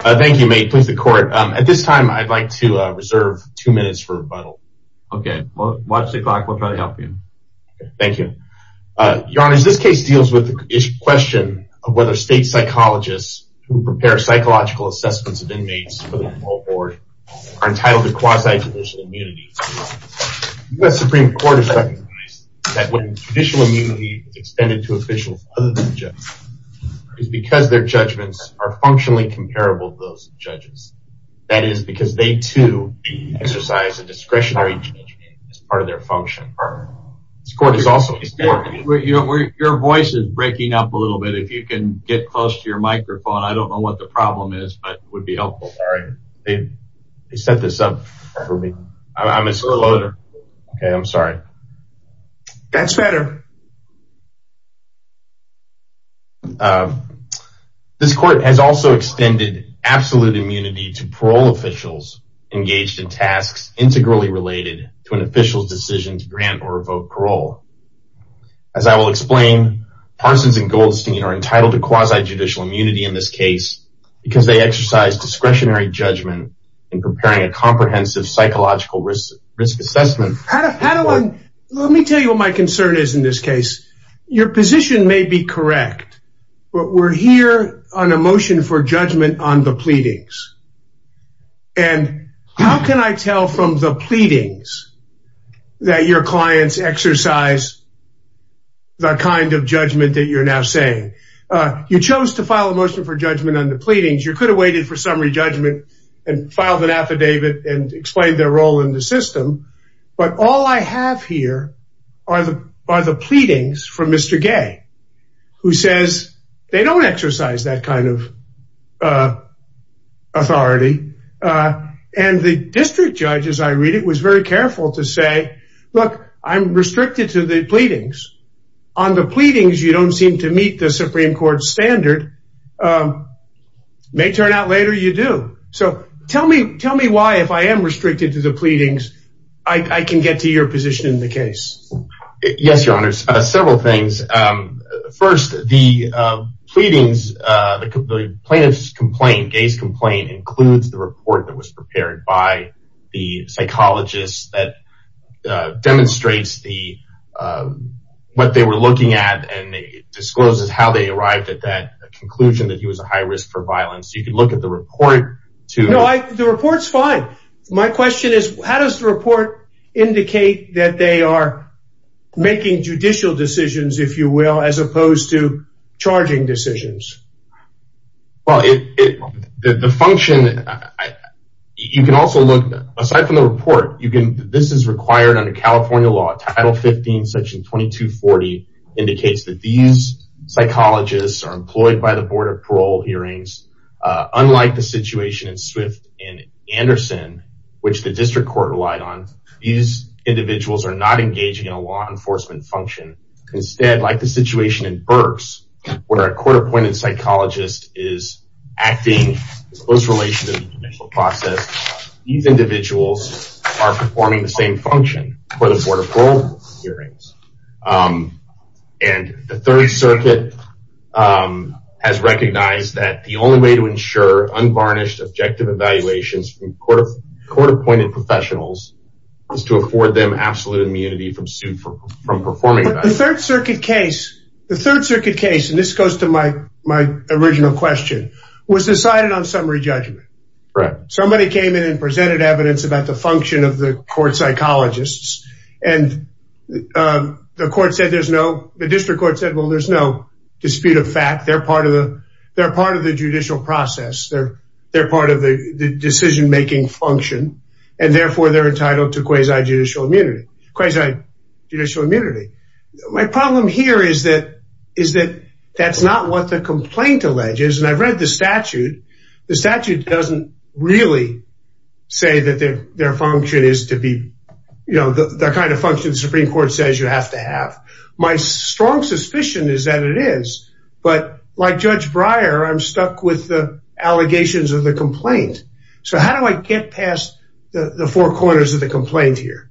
At this time, I'd like to reserve two minutes for rebuttal. Your Honor, this case deals with the question of whether state psychologists who prepare psychological assessments of inmates for the parole board are entitled to quasi-traditional immunity. The U.S. Supreme Court has recognized that when traditional immunity is extended to officials other than judges, it is because their judgments are functionally comparable to those of judges. That is because they, too, exercise a discretionary judgment as part of their function. Your voice is breaking up a little bit. If you can get close to your microphone, I don't know what the problem is, but it would be helpful. All right. They set this up for me. I'm a slow loader. Okay. I'm sorry. That's better. This court has also extended absolute immunity to parole officials engaged in tasks integrally related to an official's decision to grant or revoke parole. As I will explain, Parsons and Goldstein are entitled to quasi-judicial immunity in this case because they exercise discretionary judgment in preparing a comprehensive psychological risk assessment. How do I – let me tell you what my concern is in this case. Your position may be correct, but we're here on a motion for judgment on the pleadings. And how can I tell from the pleadings that your clients exercise the kind of judgment that you're now saying? You chose to file a motion for judgment on the pleadings. You could have waited for summary judgment and filed an affidavit and explained their role in the system. But all I have here are the pleadings from Mr. Gay, who says they don't exercise that kind of authority. And the district judge, as I read it, was very careful to say, look, I'm restricted to the pleadings. On the pleadings, you don't seem to meet the Supreme Court standard. May turn out later you do. So tell me why, if I am restricted to the pleadings, I can get to your position in the case. Yes, your honors. Several things. First, the pleadings, the plaintiff's complaint, Gay's complaint, includes the report that was prepared by the psychologist that demonstrates what they were looking at and discloses how it was done. So you can look at the report. No, the report's fine. My question is, how does the report indicate that they are making judicial decisions, if you will, as opposed to charging decisions? Well, the function, you can also look, aside from the report, this is required under California law, Title 15, Section 2240, indicates that these psychologists are employed by the Board of Parole hearings. Unlike the situation in Swift and Anderson, which the district court relied on, these individuals are not engaging in a law enforcement function. Instead, like the situation in Burks, where a court-appointed psychologist is acting in close relation to the judicial process, these individuals are performing the same function for the Board of Parole hearings. And the Third Circuit has recognized that the only way to ensure unvarnished objective evaluations from court-appointed professionals is to afford them absolute immunity from performing evaluations. But the Third Circuit case, and this goes to my original question, was decided on summary judgment. Correct. Somebody came in and presented evidence about the function of the court psychologists, and the court said there's no, the district court said, well, there's no dispute of fact. They're part of the judicial process. They're part of the decision-making function, and therefore, they're entitled to quasi-judicial immunity. My problem here is that that's not what the complaint alleges, and I've read the statute. The statute doesn't really say that their function is to be, you know, the kind of function the Supreme Court says you have to have. My strong suspicion is that it is, but like Judge Breyer, I'm stuck with the allegations of the complaint. So, how do I get past the four corners of the complaint here?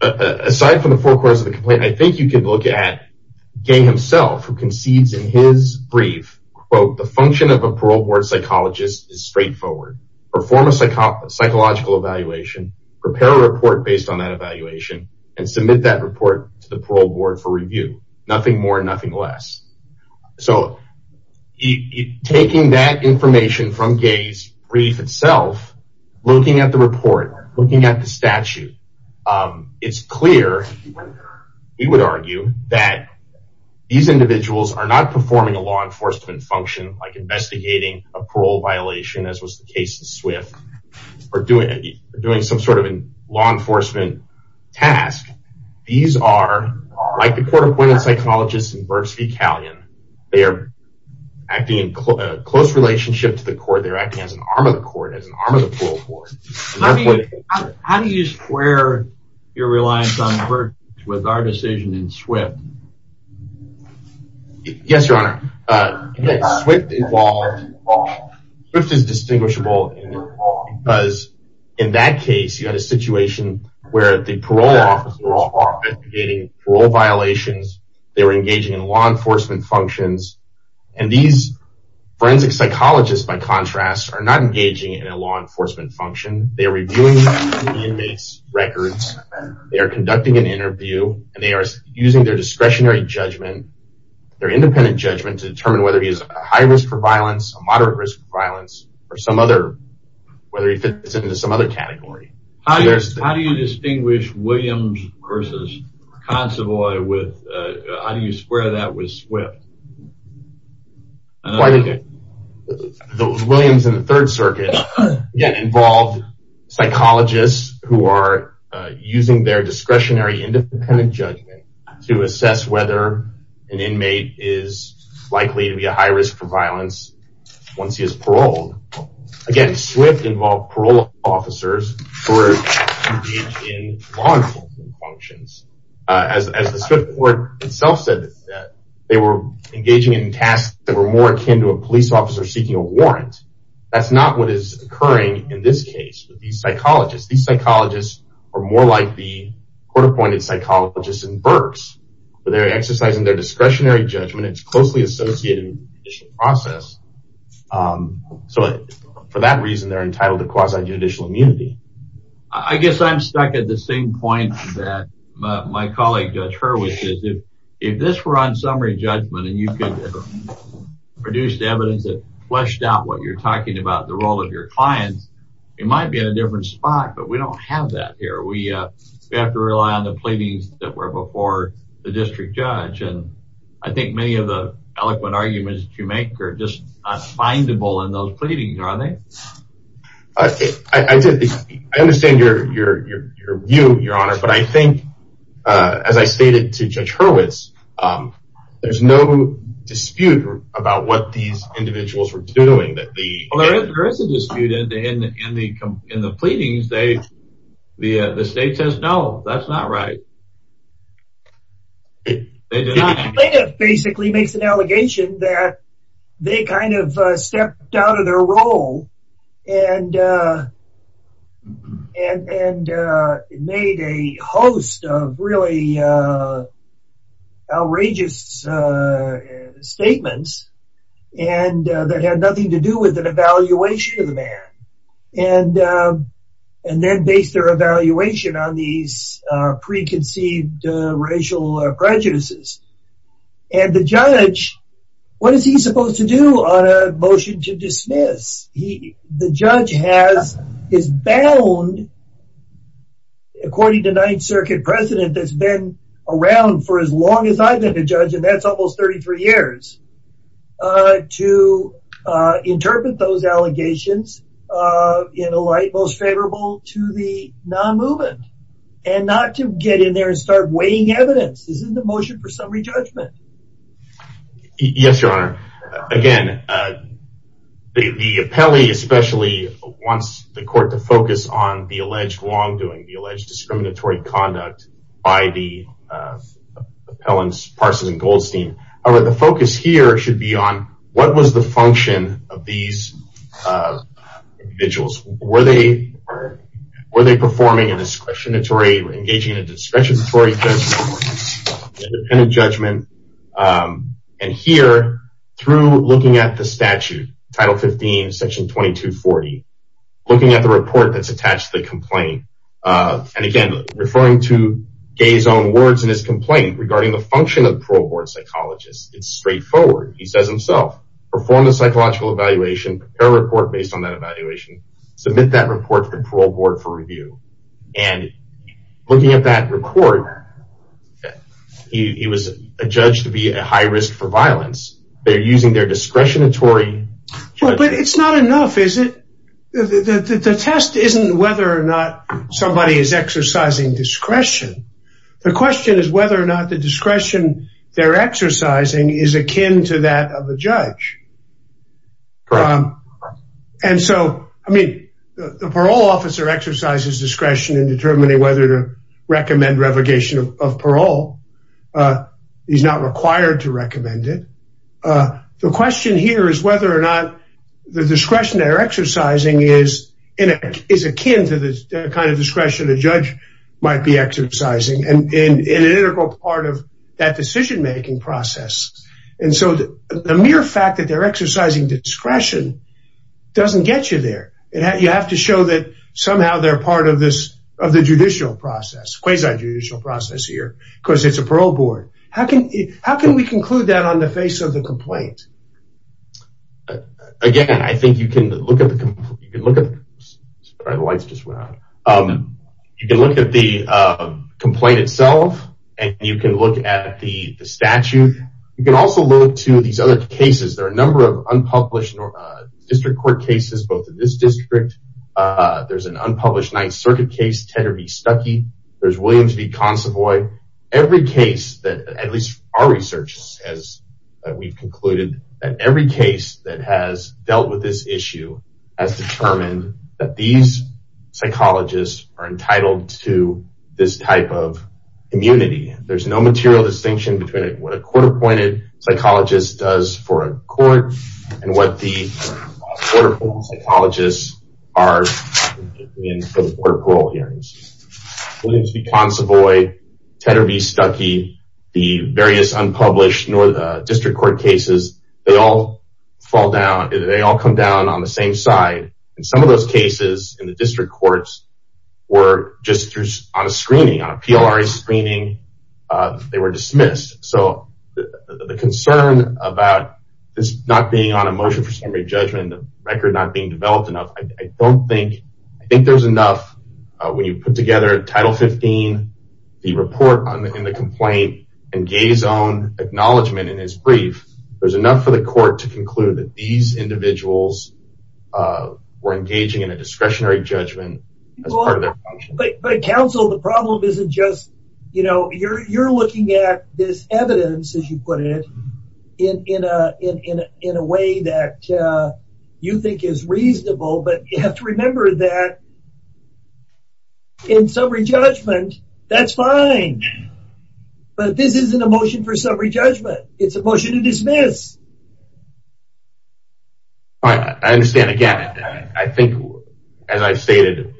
Aside from the four corners of the complaint, I think you can look at Gay himself, who concedes in his brief, quote, the function of a parole board psychologist is straightforward. Perform a psychological evaluation, prepare a report based on that evaluation, and submit that report to the parole board for review. Nothing more, nothing less. So, taking that information from Gay's brief itself, looking at the report, looking at the statute, it's clear, we would argue, that these individuals are not performing a law enforcement function, like investigating a parole violation, as was the case in Swift, or doing some sort of law enforcement task. These are, like the court-appointed psychologists in Berks v. Callion, they are acting in close relationship to the court, they're acting as an arm of the court, as an arm of the parole court. How do you square your reliance on Berks v. Callion with our decision in Swift? Yes, your honor, Swift is distinguishable, because in that case, you had a situation where the parole officers were investigating parole violations, they were engaging in law enforcement functions, and these forensic psychologists, by contrast, are not engaging in a law enforcement function, they are reviewing the inmates' records, they are conducting an interview, and they are using their discretionary judgment, their independent judgment, to determine whether he is a high risk for violence, a moderate risk for violence, or some other, whether he fits into some other category. How do you distinguish Williams v. Consovoy with, how do you square that with Swift? Williams v. the Third Circuit, again, involved psychologists who are using their discretionary independent judgment to assess whether an inmate is likely to be a high risk for violence once he is paroled. Again, Swift involved parole officers who were engaged in law enforcement functions. As the Swift court itself said, they were engaging in tasks that were more akin to a police officer seeking a warrant. That's not what is occurring in this case with these psychologists. These psychologists are more like the court-appointed psychologists in Berks, where they are exercising their discretionary judgment, it's closely associated with the judicial process, so for that reason, they are entitled to quasi-judicial immunity. I guess I'm stuck at the same point that my colleague, Judge Hurwitz, if this were on summary judgment and you could have produced evidence that fleshed out what you're talking about, the role of your clients, you might be in a different spot, but we don't have that here. We have to rely on the pleadings that were before the district judge, and I think many of the eloquent arguments that you make are just not findable in those pleadings, are they? I understand your view, your honor, but I think, as I stated to Judge Hurwitz, there's no dispute about what these individuals were doing. There is a dispute in the pleadings. The state says no, that's not right. The plaintiff basically makes an allegation that they kind of stepped out of their role and made a host of really outrageous statements that had nothing to do with an evaluation of the man, and then based their evaluation on these preconceived racial prejudices. And the judge, what is he supposed to do on a motion to dismiss? The judge is bound, according to Ninth Circuit precedent that's been around for as long as I've been a judge, and that's almost 33 years, to interpret those allegations in a light most favorable to the non-movement, and not to get in there and start weighing evidence. This is a motion for summary judgment. Yes, your honor. Again, the appellee especially wants the court to focus on the alleged wrongdoing, the alleged The focus here should be on what was the function of these individuals. Were they performing a discretionary, engaging in a discretionary judgment, independent judgment? And here, through looking at the statute, Title 15, Section 2240, looking at the report that's attached to the complaint, and again, referring to Gay's own words in his complaint regarding the function of the parole board psychologist, it's straightforward. He says himself, perform a psychological evaluation, prepare a report based on that evaluation, submit that report to the parole board for review. And looking at that report, he was adjudged to be at high risk for violence. They're using their discretionary judgment. But it's not enough, is it? The test isn't whether or not somebody is exercising discretion. The question is whether or not the discretion they're exercising is akin to that of a judge. And so, I mean, the parole officer exercises discretion in determining whether to recommend revocation of parole. He's not required to recommend it. The question here is whether or not the discretion they're exercising is akin to the kind of discretion a judge might be exercising and an integral part of that decision-making process. And so the mere fact that they're exercising discretion doesn't get you there. You have to show that somehow they're part of the judicial process, quasi-judicial process here, because it's a parole board. How can we conclude that on the face of the complaint? Again, I think you can look at the complaint itself, and you can look at the statute. You can also look to these other cases. There are a number of unpublished district court cases, both in this district. There's an unpublished Ninth Circuit case, Tedder v. Stuckey. There's Williams v. Consavoy. Every case that, at least our research says that we've concluded, that every case that has dealt with this issue has determined that these psychologists are entitled to this type of immunity. There's no material distinction between what a court-appointed psychologist does for a court and what the court-appointed psychologists are in court parole hearings. Williams v. Consavoy, Tedder v. Stuckey, the various unpublished district court cases, they all fall down. They all come down on the same side. And some of those cases in the district courts were just on a screening, on a PLRA screening. They were dismissed. So the concern about this not being on a motion for summary judgment, the record not being developed enough, I think there's enough when you put together Title 15, the report in the complaint, and Gay's own acknowledgment in his brief, there's enough for the court to conclude that these individuals were engaging in a discretionary judgment as part of their function. But counsel, the problem isn't just, you know, you're looking at this evidence, as you put it, in a way that you think is reasonable. But you have to remember that in summary judgment, that's fine. But this isn't a motion for summary judgment. It's a motion to dismiss. I understand. Again, I think, as I've stated,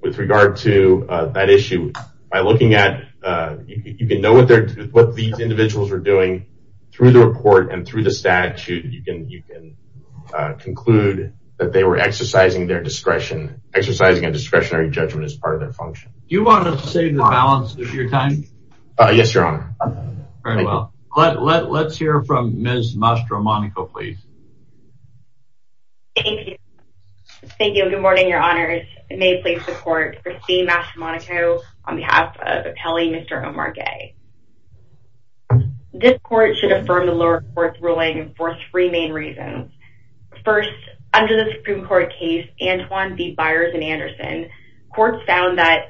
with regard to that issue, by looking at, you can know what these individuals were doing through the report and through the statute, you can conclude that they were exercising their discretion, exercising a discretionary judgment as part of their function. Do you want to save the balance of your time? Yes, Your Honor. Very well. Let's hear from Ms. Mastromonaco, please. Thank you. Thank you. Good morning, Your Honors. May I please have the floor for Ms. Mastromonaco on behalf of Appellee Mr. Omar Gay. This court should affirm the lower court's ruling for three main reasons. First, under the Supreme Court case, Antoine v. Byers v. Anderson, courts found that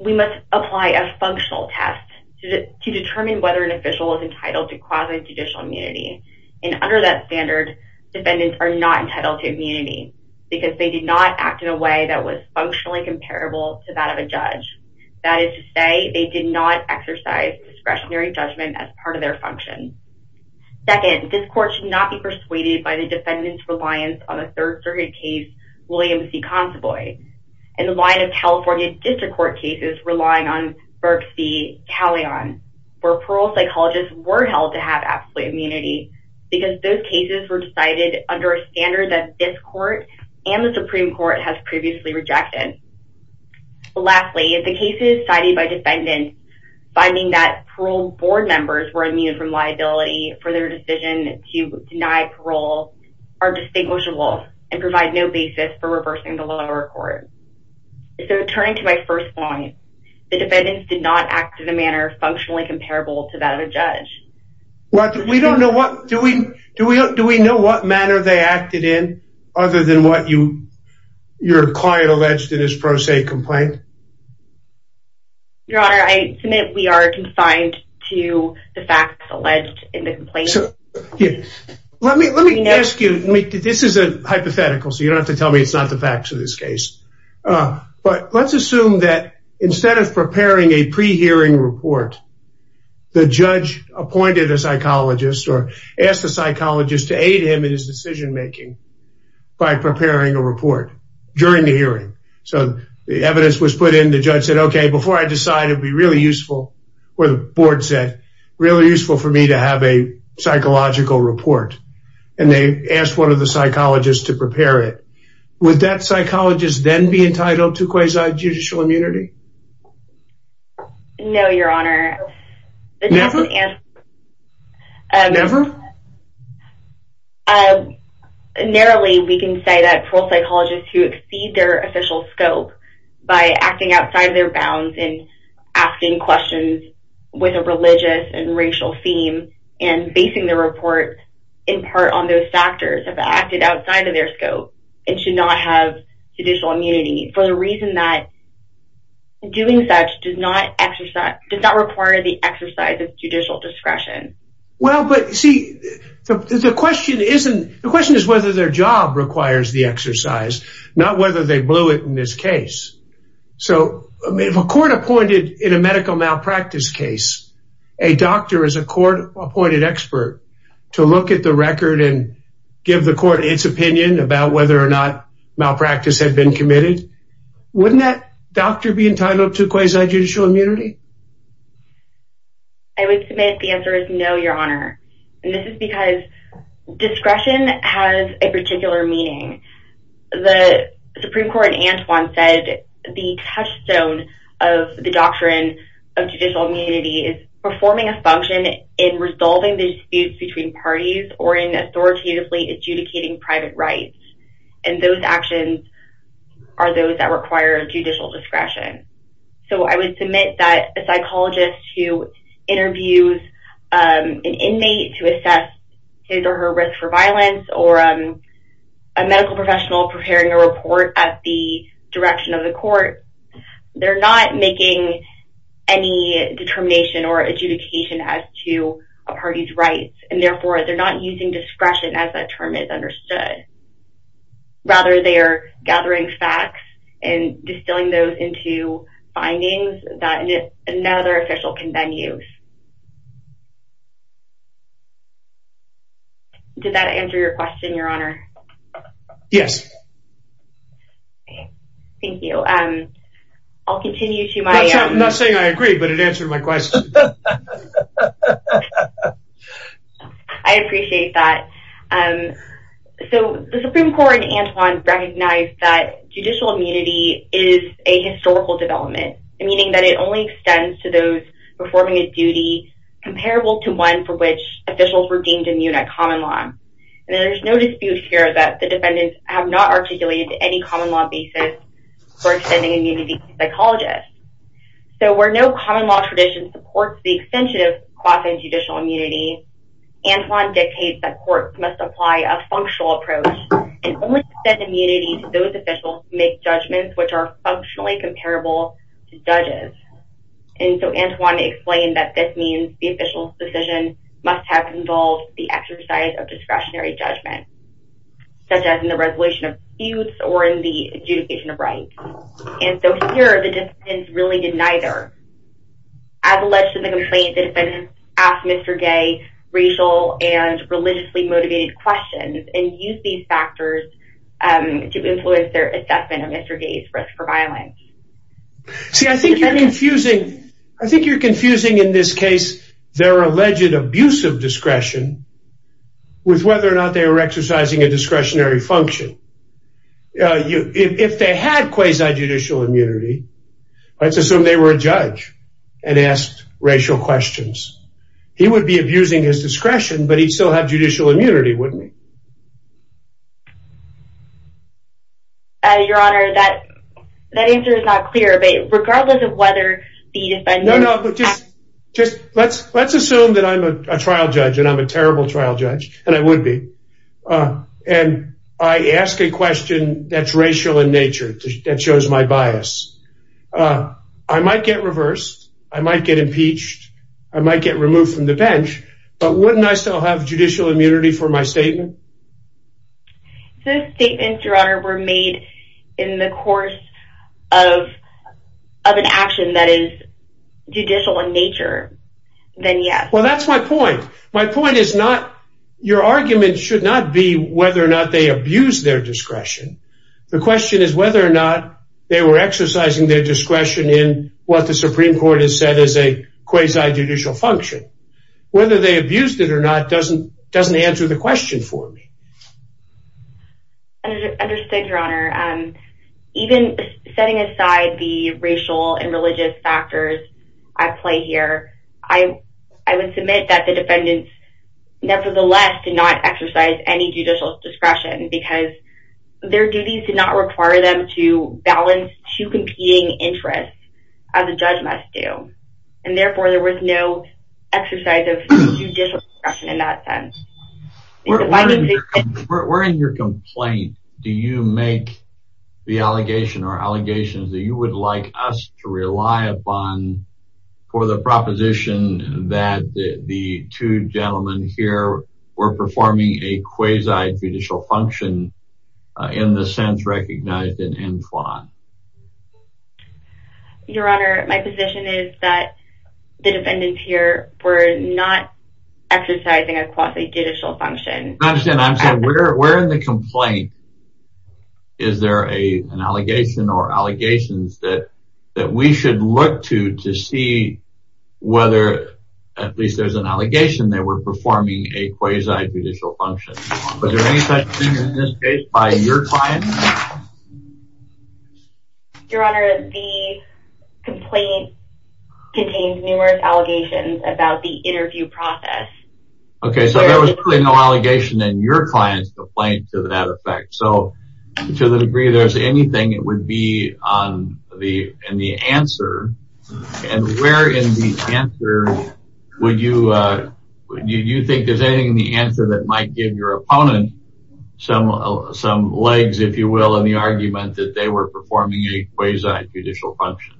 we must apply a functional test to determine whether an official is entitled to quasi-judicial immunity. And under that standard, defendants are not entitled to immunity because they did not act in a way that was functionally comparable to that of a judge. That is to say, they did not exercise discretionary judgment as part of their function. Second, this court should not be persuaded by the defendant's reliance on a third circuit case, Williams v. Consaboy, and the line of California District Court cases relying on Berks v. Callion, where parole psychologists were held to have absolute immunity because those cases were decided under a standard that this court and the Supreme Court has previously rejected. Lastly, if the case is decided by defendants, finding that parole board members were immune from liability for their decision to deny parole are distinguishable and provide no basis for reversing the lower court. So turning to my first point, the defendants did not act in a manner functionally comparable to that of a judge. Do we know what manner they acted in other than what your client alleged in his pro se complaint? Your Honor, I submit we are confined to the facts alleged in the complaint. Let me ask you, this is a hypothetical, so you don't have to tell me it's not the facts of this case. But let's assume that instead of preparing a pre-hearing report, the judge appointed a psychologist or asked the psychologist to aid him in his decision making by preparing a report during the hearing. So the evidence was put in, the judge said, okay, before I decide, it would be really useful, or the board said, really useful for me to have a psychological report. And they asked one of the psychologists to prepare it. Would that psychologist then be entitled to quasi-judicial immunity? No, Your Honor. Never? Never? Narrowly, we can say that parole psychologists who exceed their official scope by acting outside their bounds and asking questions with a religious and racial theme and basing their report in part on those factors have acted outside of their scope and should not have judicial immunity for the reason that doing such does not require the exercise of judicial discretion. Well, but see, the question is whether their job requires the exercise, not whether they blew it in this case. So if a court appointed in a medical malpractice case a doctor as a court-appointed expert to look at the record and give the court its opinion about whether or not malpractice had been committed, wouldn't that doctor be entitled to quasi-judicial immunity? I would submit the answer is no, Your Honor. And this is because discretion has a particular meaning. The Supreme Court in Antwon said the touchstone of the doctrine of judicial immunity is performing a function in resolving the disputes between parties or in authoritatively adjudicating private rights. And those actions are those that require judicial discretion. So I would submit that a psychologist who interviews an inmate to assess his or her risk for violence or a medical professional preparing a report at the direction of the court, they're not making any determination or adjudication as to a party's rights. And therefore, they're not using discretion as that term is understood. Rather, they are gathering facts and distilling those into findings that another official can then use. Did that answer your question, Your Honor? Yes. Thank you. I'll continue to my own. I'm not saying I agree, but it answered my question. I appreciate that. So the Supreme Court in Antwon recognized that judicial immunity is a historical development, meaning that it only extends to those performing a duty comparable to one for which officials were deemed immune at common law. And there's no dispute here that the defendants have not articulated any common law basis for extending immunity to psychologists. So where no common law tradition supports the extension of quasi-judicial immunity, Antwon dictates that courts must apply a functional approach and only extend immunity to those officials who make judgments which are functionally comparable to judges. And so Antwon explained that this means the official's decision must have involved the exercise of discretionary judgment, such as in the resolution of feuds or in the adjudication of rights. And so here the defendants really did neither. As alleged in the complaint, defendants asked Mr. Gay racial and religiously motivated questions and used these factors to influence their assessment of Mr. Gay's risk for violence. See, I think you're confusing in this case their alleged abuse of discretion with whether or not they were exercising a discretionary function. If they had quasi-judicial immunity, let's assume they were a judge and asked racial questions. He would be abusing his discretion, but he'd still have judicial immunity, wouldn't he? Your Honor, that answer is not clear. But regardless of whether the defendant... No, no, but just let's assume that I'm a trial judge and I'm a terrible trial judge, and I would be. And I ask a question that's racial in nature, that shows my bias. I might get reversed. I might get impeached. I might get removed from the bench. But wouldn't I still have judicial immunity for my statement? If those statements, Your Honor, were made in the course of an action that is judicial in nature, then yes. Well, that's my point. My point is not... Your argument should not be whether or not they abused their discretion. The question is whether or not they were exercising their discretion in what the Supreme Court has said is a quasi-judicial function. Whether they abused it or not doesn't answer the question for me. Understood, Your Honor. Even setting aside the racial and religious factors at play here, I would submit that the defendants nevertheless did not exercise any judicial discretion because their duties did not require them to balance two competing interests as a judge must do. And therefore, there was no exercise of judicial discretion in that sense. We're in your complaint. Do you make the allegation or allegations that you would like us to rely upon for the proposition that the two gentlemen here were performing a quasi-judicial function in the sense recognized in Enflon? Your Honor, my position is that the defendants here were not exercising a quasi-judicial function. I understand. I'm saying we're in the complaint. Is there an allegation or allegations that we should look to to see whether at least there's an allegation they were performing a quasi-judicial function. Was there any such thing in this case by your client? Your Honor, the complaint contained numerous allegations about the interview process. Okay, so there was clearly no allegation in your client's complaint to that effect. So, to the degree there's anything, it would be in the answer. And where in the answer would you think there's anything in the answer that might give your opponent some legs, if you will, in the argument that they were performing a quasi-judicial function.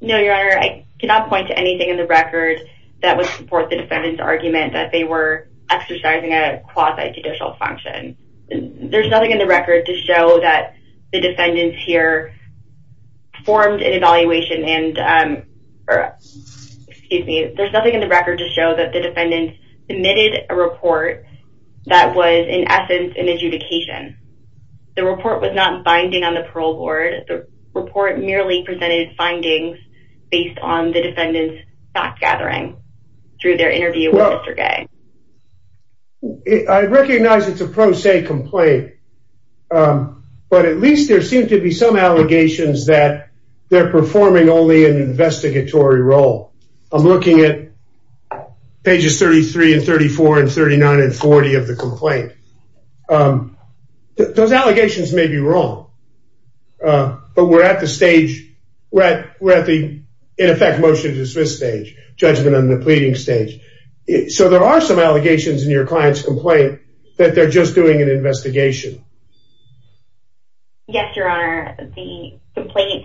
No, Your Honor, I cannot point to anything in the record that would support the defendant's argument that they were exercising a quasi-judicial function. There's nothing in the record to show that the defendants here formed an evaluation. There's nothing in the record to show that the defendants submitted a report that was in essence an adjudication. The report was not binding on the parole board. The report merely presented findings based on the defendants' thought-gathering through their interview with Mr. Gay. I recognize it's a pro se complaint. But at least there seem to be some allegations that they're performing only an investigatory role. I'm looking at pages 33 and 34 and 39 and 40 of the complaint. Those allegations may be wrong. But we're at the stage, we're at the in effect motion to dismiss stage, judgment on the pleading stage. So there are some allegations in your client's complaint that they're just doing an investigation. Yes, Your Honor. The complaint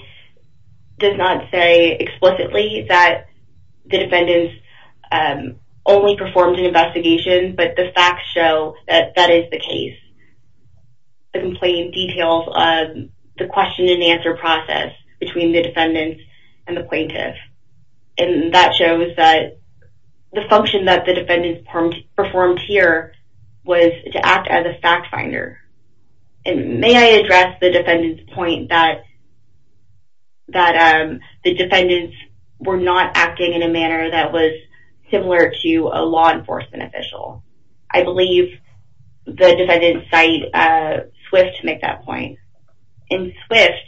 does not say explicitly that the defendants only performed an investigation, but the facts show that that is the case. The complaint details the question and answer process between the defendants and the plaintiff. And that shows that the function that the defendants performed here was to act as a fact finder. And may I address the defendants' point that the defendants were not acting in a manner that was similar to a law enforcement official. I believe the defendants cite Swift to make that point. In Swift,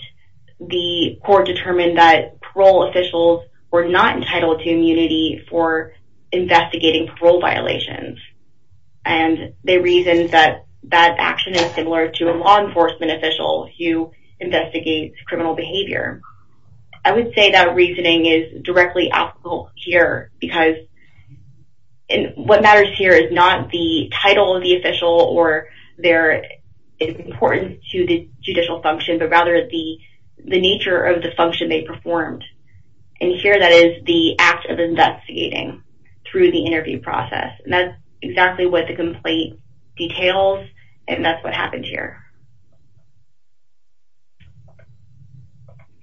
the court determined that parole officials were not entitled to immunity for investigating parole violations. And they reasoned that that action is similar to a law enforcement official who investigates criminal behavior. I would say that reasoning is directly applicable here because what matters here is not the title of the official or their importance to the judicial function, but rather the nature of the function they performed. And here that is the act of investigating through the interview process. And that's exactly what the complaint details, and that's what happened here.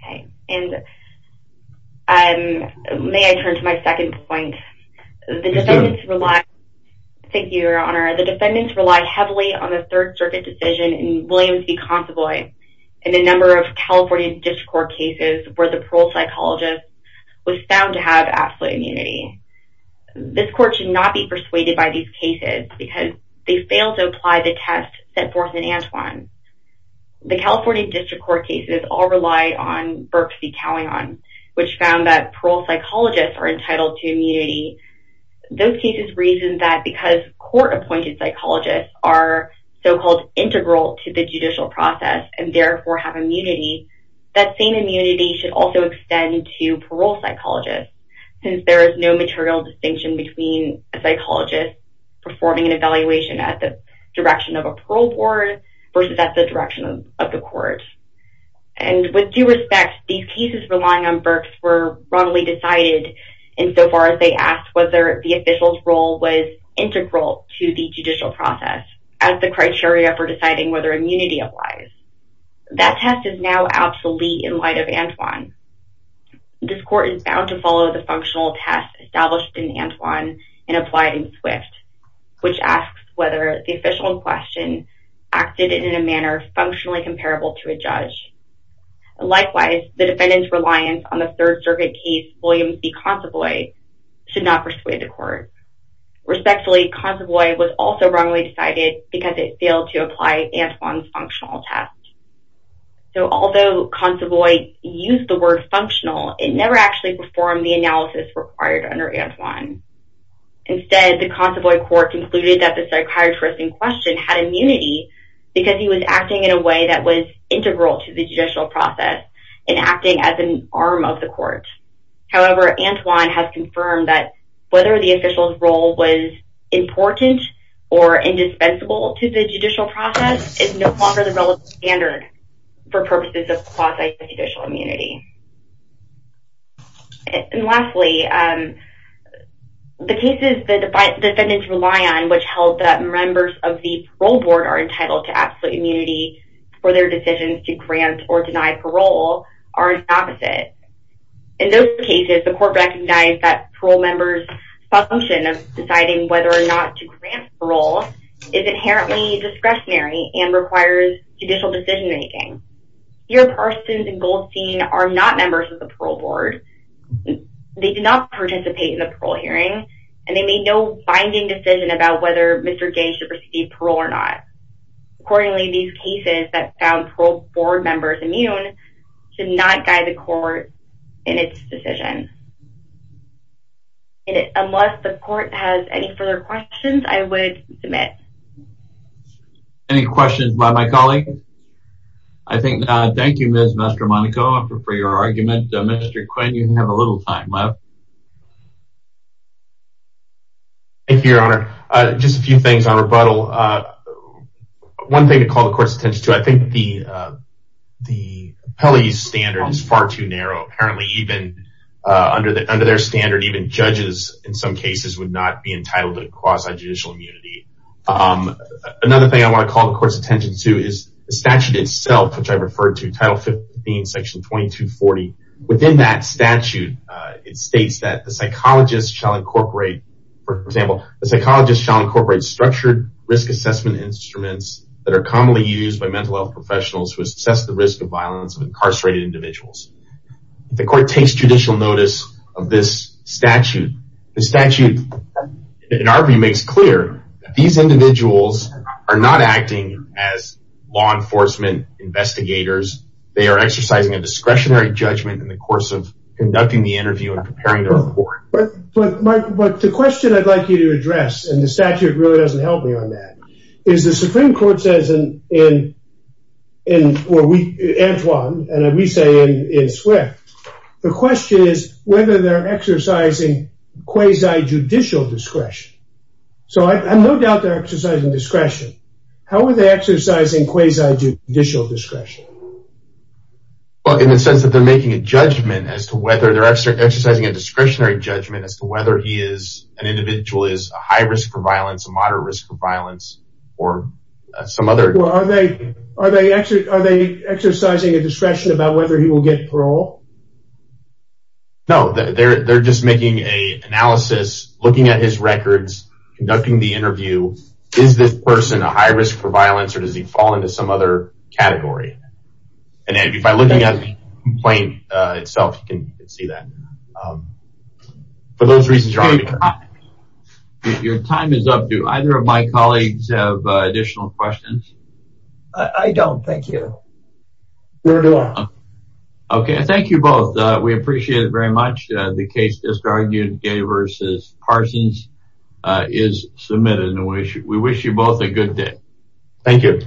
Okay. And may I turn to my second point? Thank you, Your Honor. The defendants relied heavily on the Third Circuit decision in Williams v. Consovoy and a number of California District Court cases where the parole psychologist was found to have absolute immunity. This court should not be persuaded by these cases because they failed to apply the test set forth in Antwon. The California District Court cases all relied on Berks v. Callion, which found that parole psychologists are entitled to immunity. Those cases reasoned that because court-appointed psychologists are so-called integral to the judicial process and therefore have immunity, that same immunity should also extend to parole psychologists since there is no material distinction between a psychologist performing an evaluation at the direction of a parole board versus at the direction of the court. And with due respect, these cases relying on Berks were broadly decided insofar as they asked whether the official's role was integral to the judicial process as the criteria for deciding whether immunity applies. That test is now obsolete in light of Antwon. This court is bound to follow the functional test established in Antwon and applied in Swift, which asks whether the official in question acted in a manner functionally comparable to a judge. Likewise, the defendants' reliance on the Third Circuit case Williams v. Consovoy should not persuade the court. Respectfully, Consovoy was also wrongly decided because it failed to apply Antwon's functional test. So although Consovoy used the word functional, it never actually performed the analysis required under Antwon. Instead, the Consovoy court concluded that the psychiatrist in question had immunity because he was acting in a way that was integral to the judicial process and acting as an arm of the court. However, Antwon has confirmed that whether the official's role was important or indispensable to the judicial process is no longer the relevant standard for purposes of quasi-judicial immunity. And lastly, the cases the defendants rely on which held that members of the parole board are entitled to absolute immunity for their decisions to grant or deny parole are the opposite. In those cases, the court recognized that parole members' function of deciding whether or not to grant parole is inherently discretionary and requires judicial decision-making. Here, Parsons and Goldstein are not members of the parole board, they did not participate in the parole hearing, and they made no binding decision about whether Mr. Gange should receive parole or not. Accordingly, these cases that found parole board members immune should not guide the court in its decision. Unless the court has any further questions, I would submit. Any questions by my colleague? Thank you, Ms. Mastromonaco, for your argument. Mr. Quinn, you have a little time left. Thank you, Your Honor. Just a few things on rebuttal. One thing to call the court's attention to, I think the appellee's standard is far too narrow. Apparently, even under their standard, even judges in some cases would not be entitled to quasi-judicial immunity. Another thing I want to call the court's attention to is the statute itself, which I referred to, Title 15, Section 2240. Within that statute, it states that the psychologist shall incorporate structured risk assessment instruments that are commonly used by mental health professionals who assess the risk of violence of incarcerated individuals. The court takes judicial notice of this statute. The statute, in our view, makes clear that these individuals are not acting as law enforcement investigators. They are exercising a discretionary judgment in the course of conducting the interview and preparing the report. But the question I'd like you to address, and the statute really doesn't help me on that, is the Supreme Court says in Antoine, and we say in Swift, the question is whether they're exercising quasi-judicial discretion. So I have no doubt they're exercising discretion. How are they exercising quasi-judicial discretion? Well, in the sense that they're making a judgment as to whether they're exercising a discretionary judgment as to whether an individual is a high risk for violence, a moderate risk for violence, or some other... Well, are they exercising a discretion about whether he will get parole? No, they're just making an analysis, looking at his records, conducting the interview. Is this person a high risk for violence, or does he fall into some other category? And by looking at the complaint itself, you can see that. For those reasons... Your time is up. Do either of my colleagues have additional questions? I don't, thank you. Okay, thank you both. We appreciate it very much. The case just argued, Gay v. Parsons, is submitted. We wish you both a good day. Thank you.